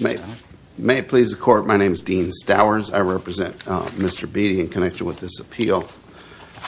May it please the court, my name is Dean Stowers. I represent Mr. Beattie in connection with this appeal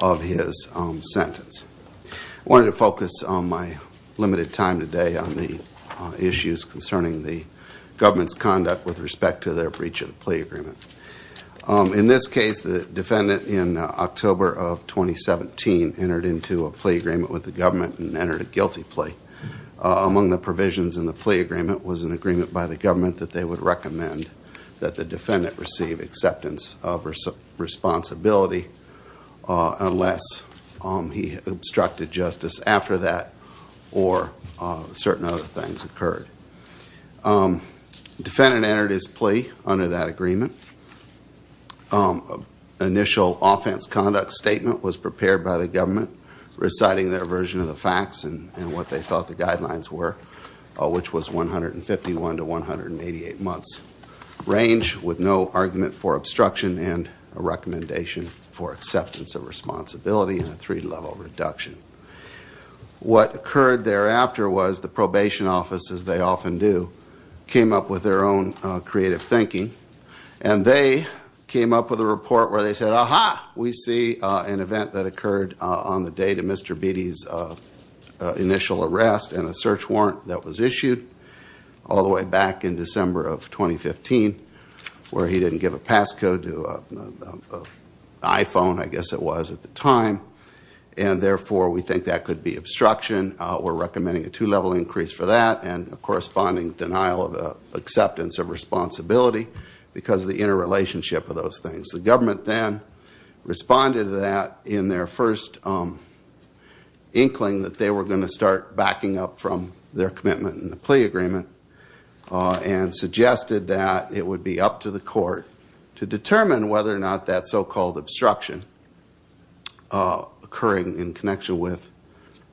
of his sentence. I wanted to focus on my limited time today on the issues concerning the government's conduct with respect to their breach of the plea agreement. In this case, the defendant in October of 2017 entered into a plea agreement with the government and entered a guilty plea. Among the provisions in the plea agreement was an agreement by the government that they would recommend that the defendant receive acceptance of responsibility unless he obstructed justice after that or certain other things occurred. The defendant entered his plea under that agreement. An initial offense conduct statement was prepared by the government reciting their version of the facts and what they thought the guidelines were which was 151 to 188 months range with no argument for obstruction and a recommendation for acceptance of responsibility and a three-level reduction. What occurred thereafter was the creative thinking and they came up with a report where they said, aha, we see an event that occurred on the date of Mr. Beattie's initial arrest and a search warrant that was issued all the way back in December of 2015 where he didn't give a passcode to an iPhone, I guess it was at the time, and therefore we think that could be obstruction. We're denial of acceptance of responsibility because of the interrelationship of those things. The government then responded to that in their first inkling that they were going to start backing up from their commitment in the plea agreement and suggested that it would be up to the court to determine whether or not that so-called obstruction occurring in connection with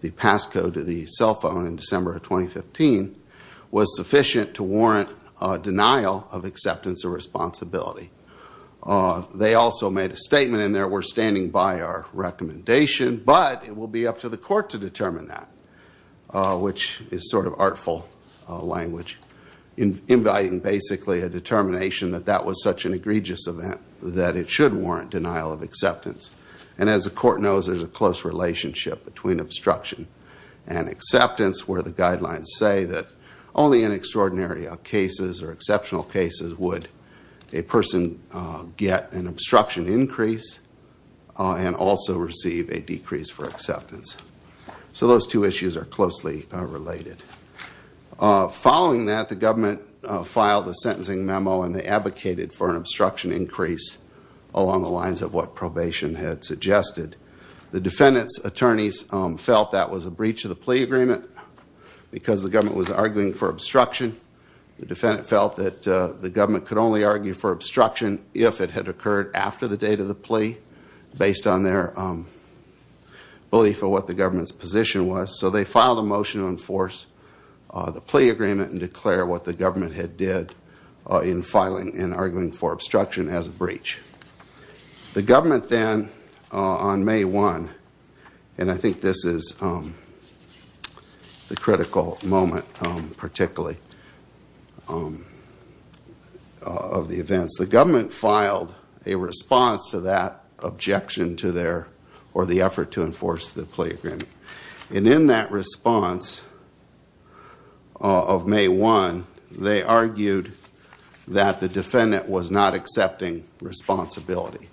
the passcode to the cell phone in December of 2015 was sufficient to warrant a denial of acceptance of responsibility. They also made a statement in there, we're standing by our recommendation, but it will be up to the court to determine that, which is sort of artful language, inviting basically a determination that that was such an egregious event that it should warrant denial of acceptance. And as the court knows, there's a close relationship between obstruction and acceptance where the guidelines say that only in extraordinary cases or exceptional cases would a person get an obstruction increase and also receive a decrease for acceptance. So those two issues are closely related. Following that, the government filed a sentencing memo and they advocated for an obstruction increase along the lines of what probation had suggested. The defendant's attorneys felt that was a breach of the plea agreement because the government was arguing for obstruction. The defendant felt that the government could only argue for obstruction if it had occurred after the date of the plea based on their belief of what the government's position was. So they filed a motion to enforce the plea agreement and declare what the government had did in filing and arguing for obstruction as a breach. The government then, on May 1, and I think this is the critical moment particularly of the events, the government filed a response to that objection to their, or the effort to enforce the plea agreement. And in that response of May 1, they argued that the defendant was not accepting responsibility,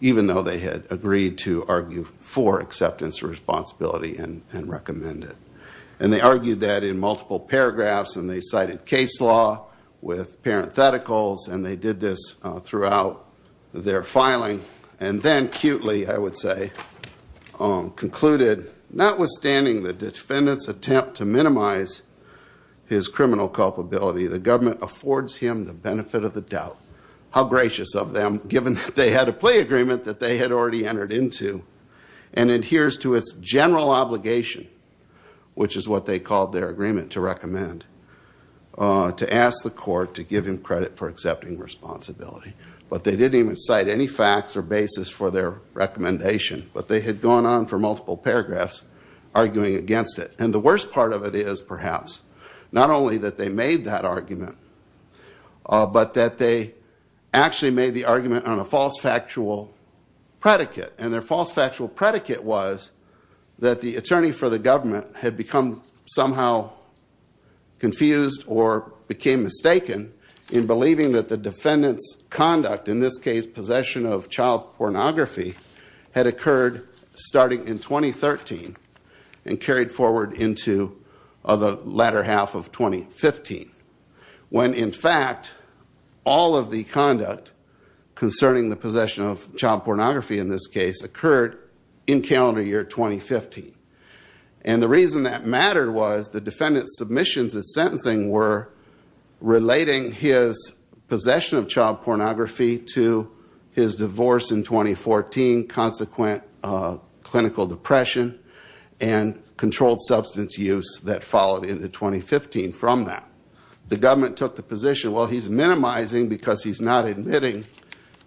even though they had agreed to argue for acceptance responsibility and recommend it. And they argued that in multiple paragraphs and they cited case law with parentheticals and they did this throughout their filing. And then, cutely, I would say, concluded, notwithstanding the defendant's attempt to minimize his criminal culpability, the government affords him the benefit of the doubt. How gracious of them, given that they had a plea agreement that they had already entered into and adheres to its general obligation, which is what they called their agreement to recommend, to ask the court to give him credit for accepting responsibility. But they didn't even cite any facts or basis for their recommendation. But they had gone on for multiple paragraphs arguing against it. And the worst part of it is, perhaps, not only that they made that argument, but that they actually made the argument on a false factual predicate. And their false factual predicate was that the attorney for the government had become somehow confused or became mistaken in believing that the defendant's conduct, in this case, possession of child pornography, had occurred starting in 2013 and carried forward into the latter half of 2015. When, in fact, all of the conduct concerning the possession of child pornography, in this case, occurred in calendar year 2015. And the reason that mattered was the defendant's submissions at sentencing were relating his possession of child pornography to his divorce in 2014, consequent clinical depression, and controlled substance use that followed into 2015 from that. The government took the position, well, he's minimizing because he's not admitting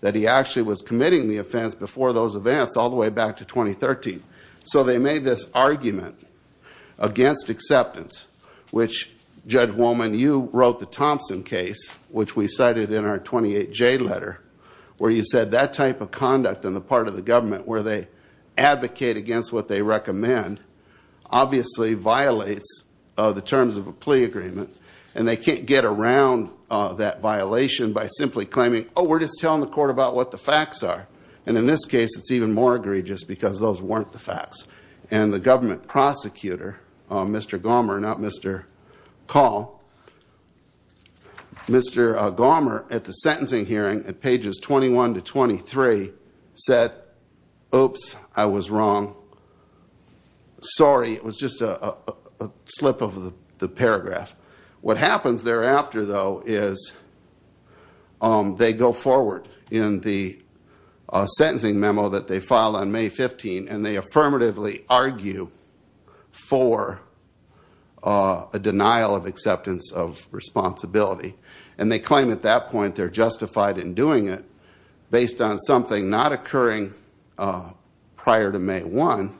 that he actually was committing the offense before those events all the way back to 2013. So they made this argument against acceptance, which, Judge Wolman, you wrote the Thompson case, which we cited in our 28J letter, where you said that type of conduct on the part of the government where they advocate against what they recommend obviously violates the terms of a plea agreement. And they can't get around that violation by simply claiming, oh, we're just telling the court about what the facts are. And in this case, it's even more egregious because those weren't the facts. And the government prosecutor, Mr. Gomer, not Mr. Call, Mr. Gomer, at the sentencing hearing, at pages 21 to 23, said, oops, I was wrong. Sorry. It was just a slip of the paragraph. What happens thereafter, though, is they go forward in the sentencing memo that they filed on May 15, and they affirmatively argue for a denial of acceptance of responsibility. And they claim at that point they're justified in doing it based on something not occurring prior to May 1,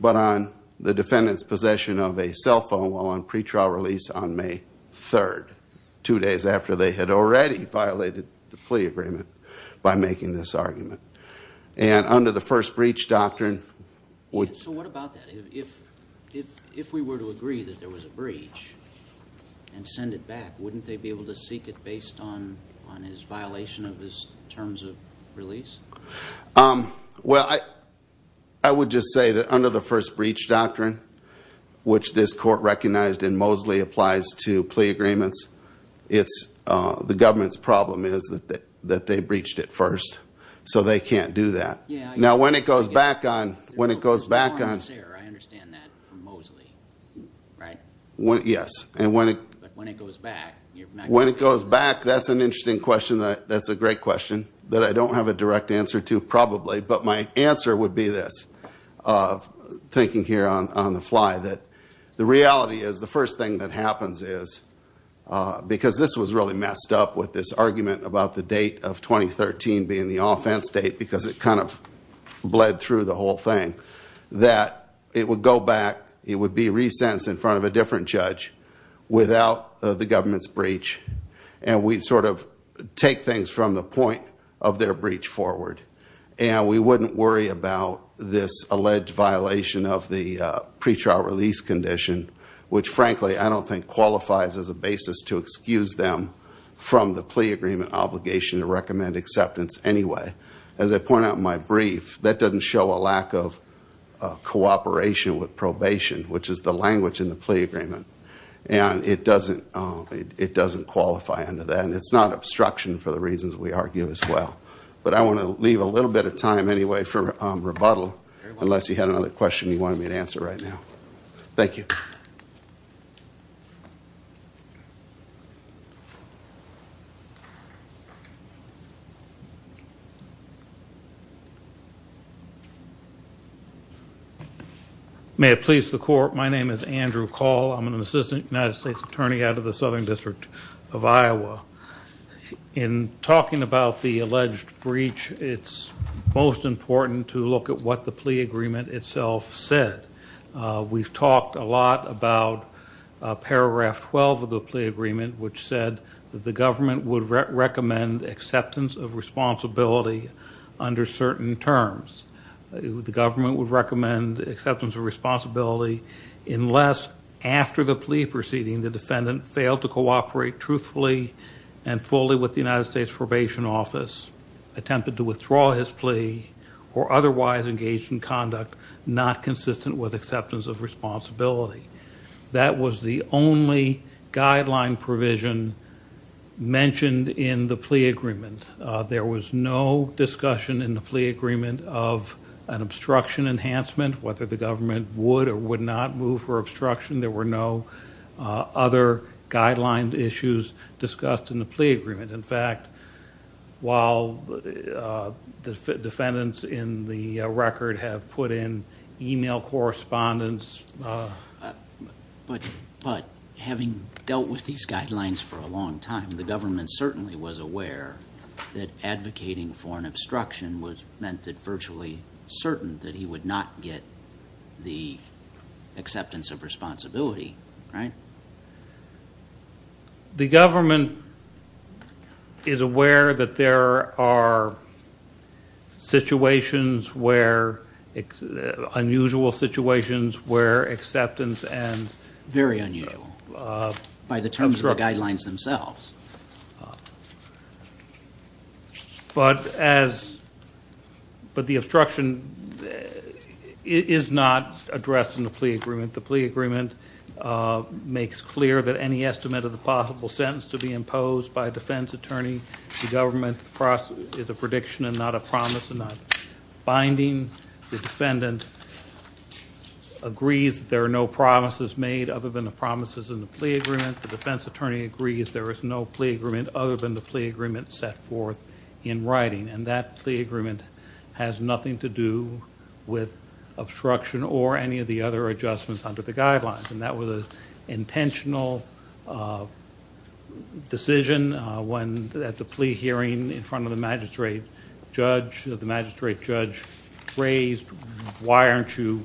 but on the defendant's possession of a cell phone while on pretrial release on May 3, two days after they had already violated the plea agreement by making this argument. And under the first breach doctrine... So what about that? If we were to agree that there was a breach and send it back, wouldn't they be able to seek it based on his violation of his terms of release? Well, I would just say that under the first breach doctrine, which this court recognized in Mosley applies to plea agreements, the government's problem is that they breached it first. So they can't do that. Now, when it goes back on... There's a little bit more on this error. I understand that from Mosley, right? Yes. But when it goes back, you're not going to... When it goes back, that's an interesting question. That's a great question. But I don't have a direct answer to probably. But my answer would be this, thinking here on the fly, that the reality is the first thing that happens is... Because this was really messed up with this argument about the date of 2013 being the offense date, because it kind of bled through the whole thing, that it would go back. It would be re-sentenced in front of a different judge without the government's breach. And we'd sort of take things from the point of their breach forward. And we wouldn't worry about this alleged violation of the pretrial release condition, which frankly I don't think qualifies as a basis to excuse them from the plea agreement obligation to recommend acceptance anyway. As I point out in my brief, that doesn't show a lack of cooperation with probation, which is the language in the plea agreement. And it doesn't qualify under that. And it's not something that we argue as well. But I want to leave a little bit of time anyway for rebuttal, unless you had another question you wanted me to answer right now. Thank you. May it please the court, my name is Andrew Call. I'm an assistant United States attorney out of the Southern District of Iowa. In talking about the alleged breach, it's most important to look at what the plea agreement itself said. We've talked a lot about paragraph 12 of the plea agreement, which said that the government would recommend acceptance of responsibility under certain terms. The government would recommend acceptance of responsibility unless after the plea proceeding, the defendant failed to cooperate truthfully and fully with the United States probation office, attempted to withdraw his plea, or otherwise engaged in conduct not consistent with acceptance of responsibility. That was the only guideline provision mentioned in the plea agreement. There was no discussion in the plea agreement of an obstruction enhancement, whether the government would or would not move for obstruction. There were no other guidelines issues discussed in the plea agreement. In fact, while the defendants in the record have put in email correspondence. But having dealt with these guidelines for a long time, the government certainly was aware that advocating for an obstruction was meant that virtually certain that he would not get the acceptance of responsibility, right? The government is aware that there are situations where, unusual situations where acceptance Very unusual, by the terms of the guidelines themselves. But the obstruction is not addressed in the plea agreement. The plea agreement makes clear that any estimate of the possible sentence to be imposed by a defense attorney, the government is a prediction and not a promise and not binding. The defendant agrees there are no promises made other than the promises in the plea agreement. The defense attorney agrees there is no plea agreement other than the plea agreement set forth in writing. And that plea agreement has nothing to do with obstruction or any of the other adjustments under the guidelines. And that was an intentional decision when at the plea hearing in front of judge, the magistrate judge raised, why aren't you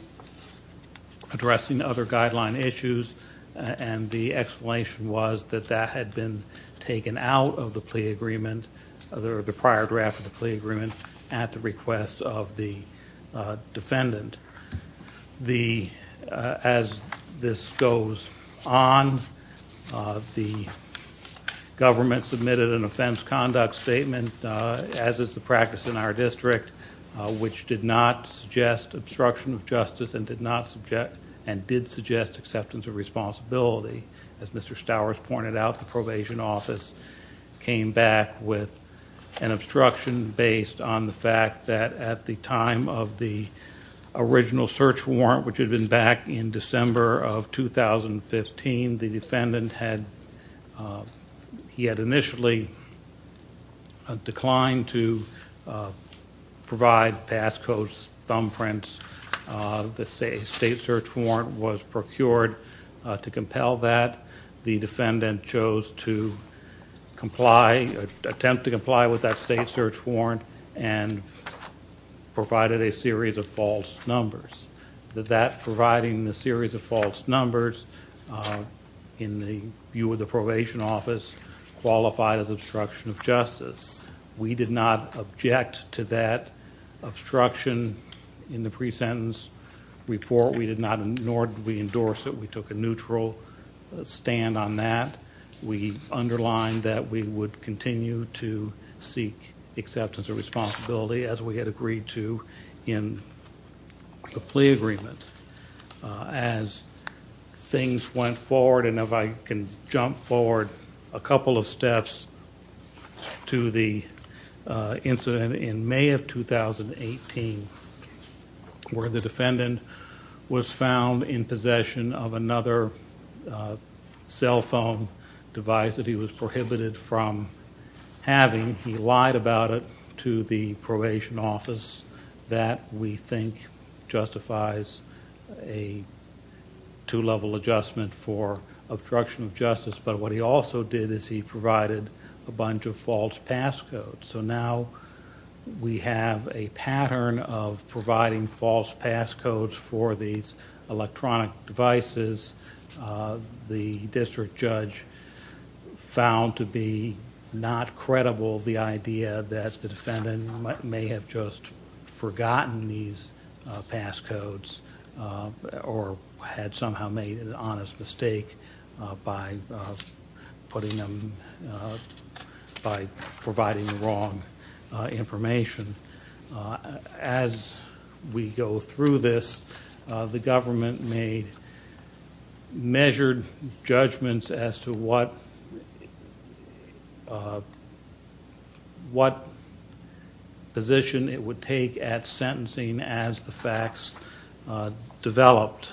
addressing other guideline issues? And the explanation was that that had been taken out of the plea agreement, the prior draft of the plea agreement, at the request of the defendant. The, as this goes on, the government submitted an offense conduct statement, as is the practice in our district, which did not suggest obstruction of justice and did not subject and did suggest acceptance of responsibility. As Mr. Stowers pointed out, the original search warrant, which had been back in December of 2015, the defendant had, he had initially declined to provide pass codes, thumbprints. The state search warrant was procured to compel that. The defendant chose to comply, attempt to comply with that state search warrant and provided a series of false numbers. That providing the series of false numbers in the view of the probation office qualified as obstruction of justice. We did not object to that obstruction in the pre-sentence report. We did not, nor did we endorse it. We took a neutral stand on that. We underlined that we would continue to seek acceptance of responsibility, as we had agreed to in the plea agreement. As things went forward, and if I can jump forward a couple of steps to the incident in May of 2018, where the defendant was found in possession of another cell phone device that he was prohibited from having, he lied about it to the probation office that we think justifies a two-level adjustment for obstruction of justice. But what he also did is he provided a bunch of false pass codes. So now we have a pattern of providing false pass codes for these electronic devices. The district judge found to be not credible the idea that the defendant may have just forgotten these pass codes or had somehow made an honest mistake by providing the wrong information. As we go through this, the government made measured judgments as to what position it would take at sentencing as the facts developed.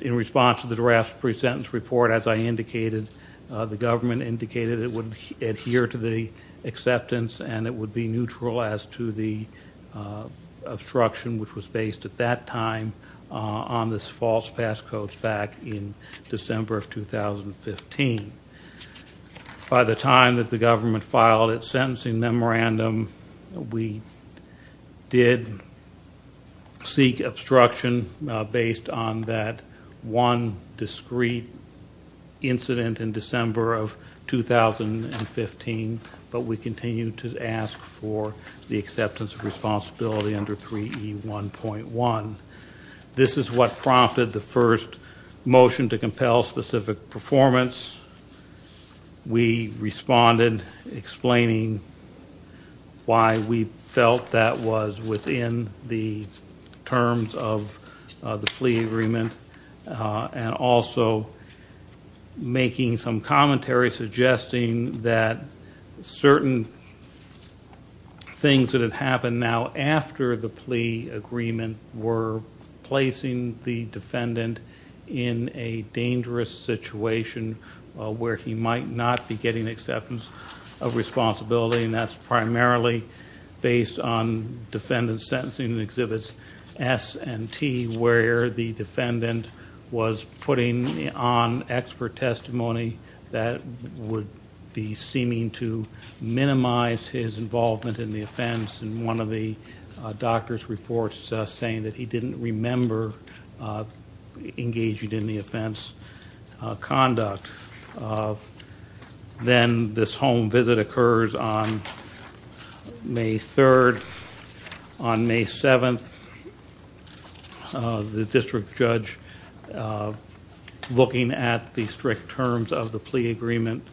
In response to the draft pre-sentence report, as I indicated, the government indicated it would adhere to the acceptance and it would be neutral as to the obstruction which was based at that time on this false pass code back in December of 2015. By the time that the government filed its obstruction based on that one discrete incident in December of 2015, but we continue to ask for the acceptance of responsibility under 3E1.1. This is what prompted the first motion to compel specific performance. We responded explaining why we felt that was within the terms of the plea agreement and also making some commentary suggesting that certain things that have situation where he might not be getting acceptance of responsibility and that's primarily based on defendant's sentencing exhibits S and T where the defendant was putting on expert testimony that would be seeming to minimize his involvement in the offense and one of the doctor's reports saying that he didn't remember engaging in the offense conduct. Then this home visit occurs on May 3rd. On May 7th, the district judge looking at the strict terms of the plea agreement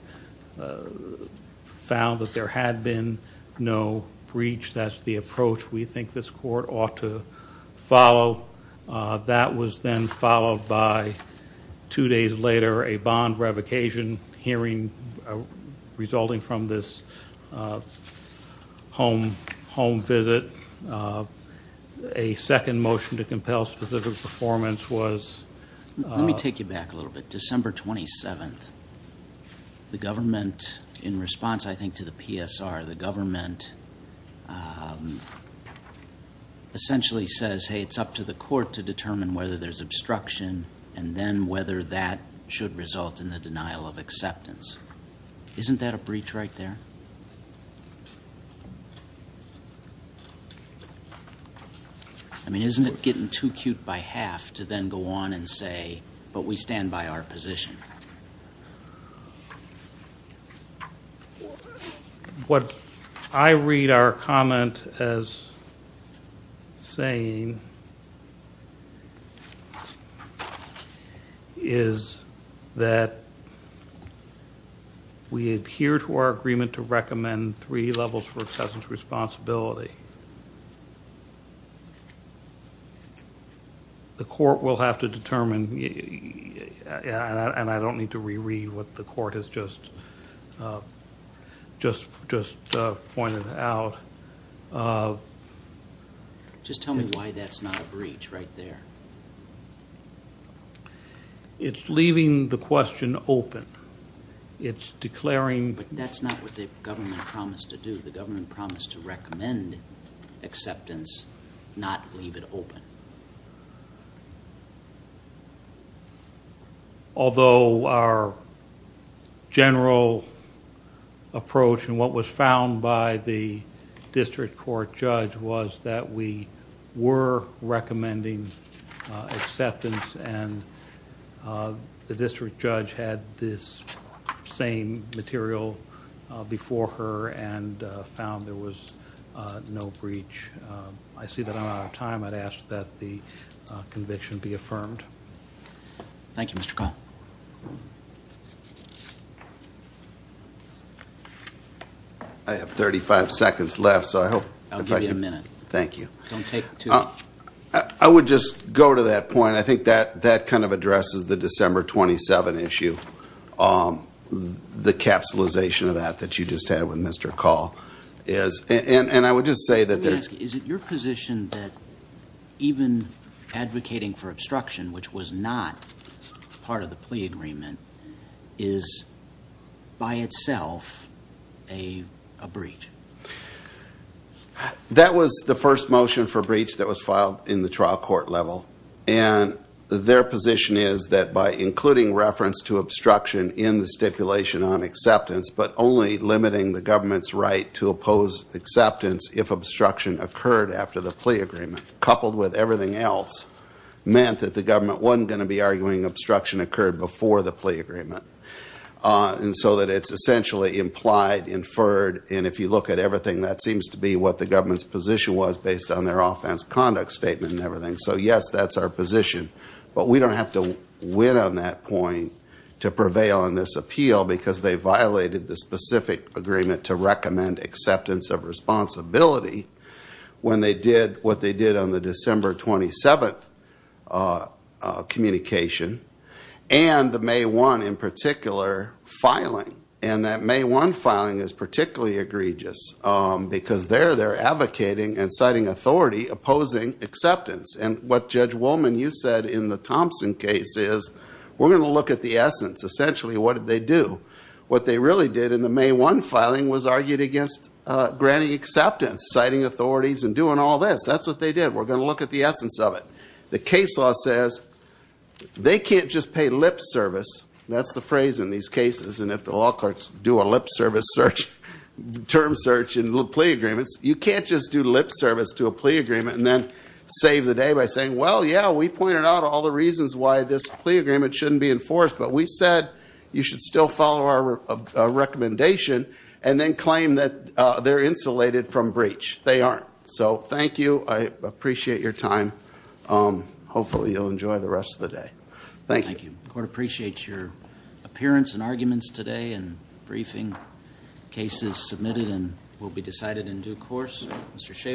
found that there had been no breach. That's the approach we think this court ought to follow. That was then followed by two days later a bond revocation hearing resulting from this home visit. A second motion to compel specific performance was... In response, I think, to the PSR, the government essentially says, hey, it's up to the court to determine whether there's obstruction and then whether that should result in the denial of acceptance. Isn't that a breach right there? I mean, isn't it getting too cute by half to then go on and say, but we stand by our position? What I read our comment as saying is that we adhere to our agreement to recommend three levels for acceptance responsibility. The court will have to determine, and I don't need to reread what the court has just pointed out. Just tell me why that's not a breach right there. It's leaving the question open. It's declaring... But that's not what the government promised to recommend acceptance, not leave it open. Although our general approach and what was found by the district court judge was that we were recommending acceptance and the district judge had this same material before her and found there was no breach. I see that I'm out of time. I'd ask that the conviction be affirmed. Thank you, Mr. Call. I have 35 seconds left, so I hope... I'll give you a minute. Thank you. I would just go to that point. I think that kind of addresses the December 27 issue, on the capsulization of that that you just had with Mr. Call. Is it your position that even advocating for obstruction, which was not part of the plea agreement, is by itself a breach? That was the first motion for breach that was filed in the trial court level. And their position is that by including reference to obstruction in the stipulation on acceptance, but only limiting the government's right to oppose acceptance if obstruction occurred after the plea agreement, coupled with everything else, meant that the government wasn't going to be arguing obstruction occurred before the plea agreement. And so that it's essentially implied, inferred, and if you look at everything, that seems to be what the government's position was based on their offense conduct statement and everything. So yes, that's our position. But we don't have to win on that point to prevail in this appeal because they violated the specific agreement to recommend acceptance of responsibility when they did what they did on the December 27th communication and the May 1, in particular, filing. And that May 1 filing is particularly egregious because there they're advocating and citing authority opposing acceptance. And what Judge Woolman, you said in the Thompson case, is we're going to look at the essence. Essentially, what did they do? What they really did in the May 1 filing was argued against granting acceptance, citing authorities, and doing all this. That's what they did. We're going to look at the essence of it. The case law says they can't just pay lip service. That's the phrase in these cases. And if law courts do a lip service term search in plea agreements, you can't just do lip service to a plea agreement and then save the day by saying, well, yeah, we pointed out all the reasons why this plea agreement shouldn't be enforced. But we said you should still follow our recommendation and then claim that they're insulated from breach. They aren't. So thank you. I appreciate your time. Hopefully, you'll enjoy the rest of the day. Thank you. Court appreciates your appearance and arguments today and briefing. Case is submitted and will be decided in due course. Mr. Schafer.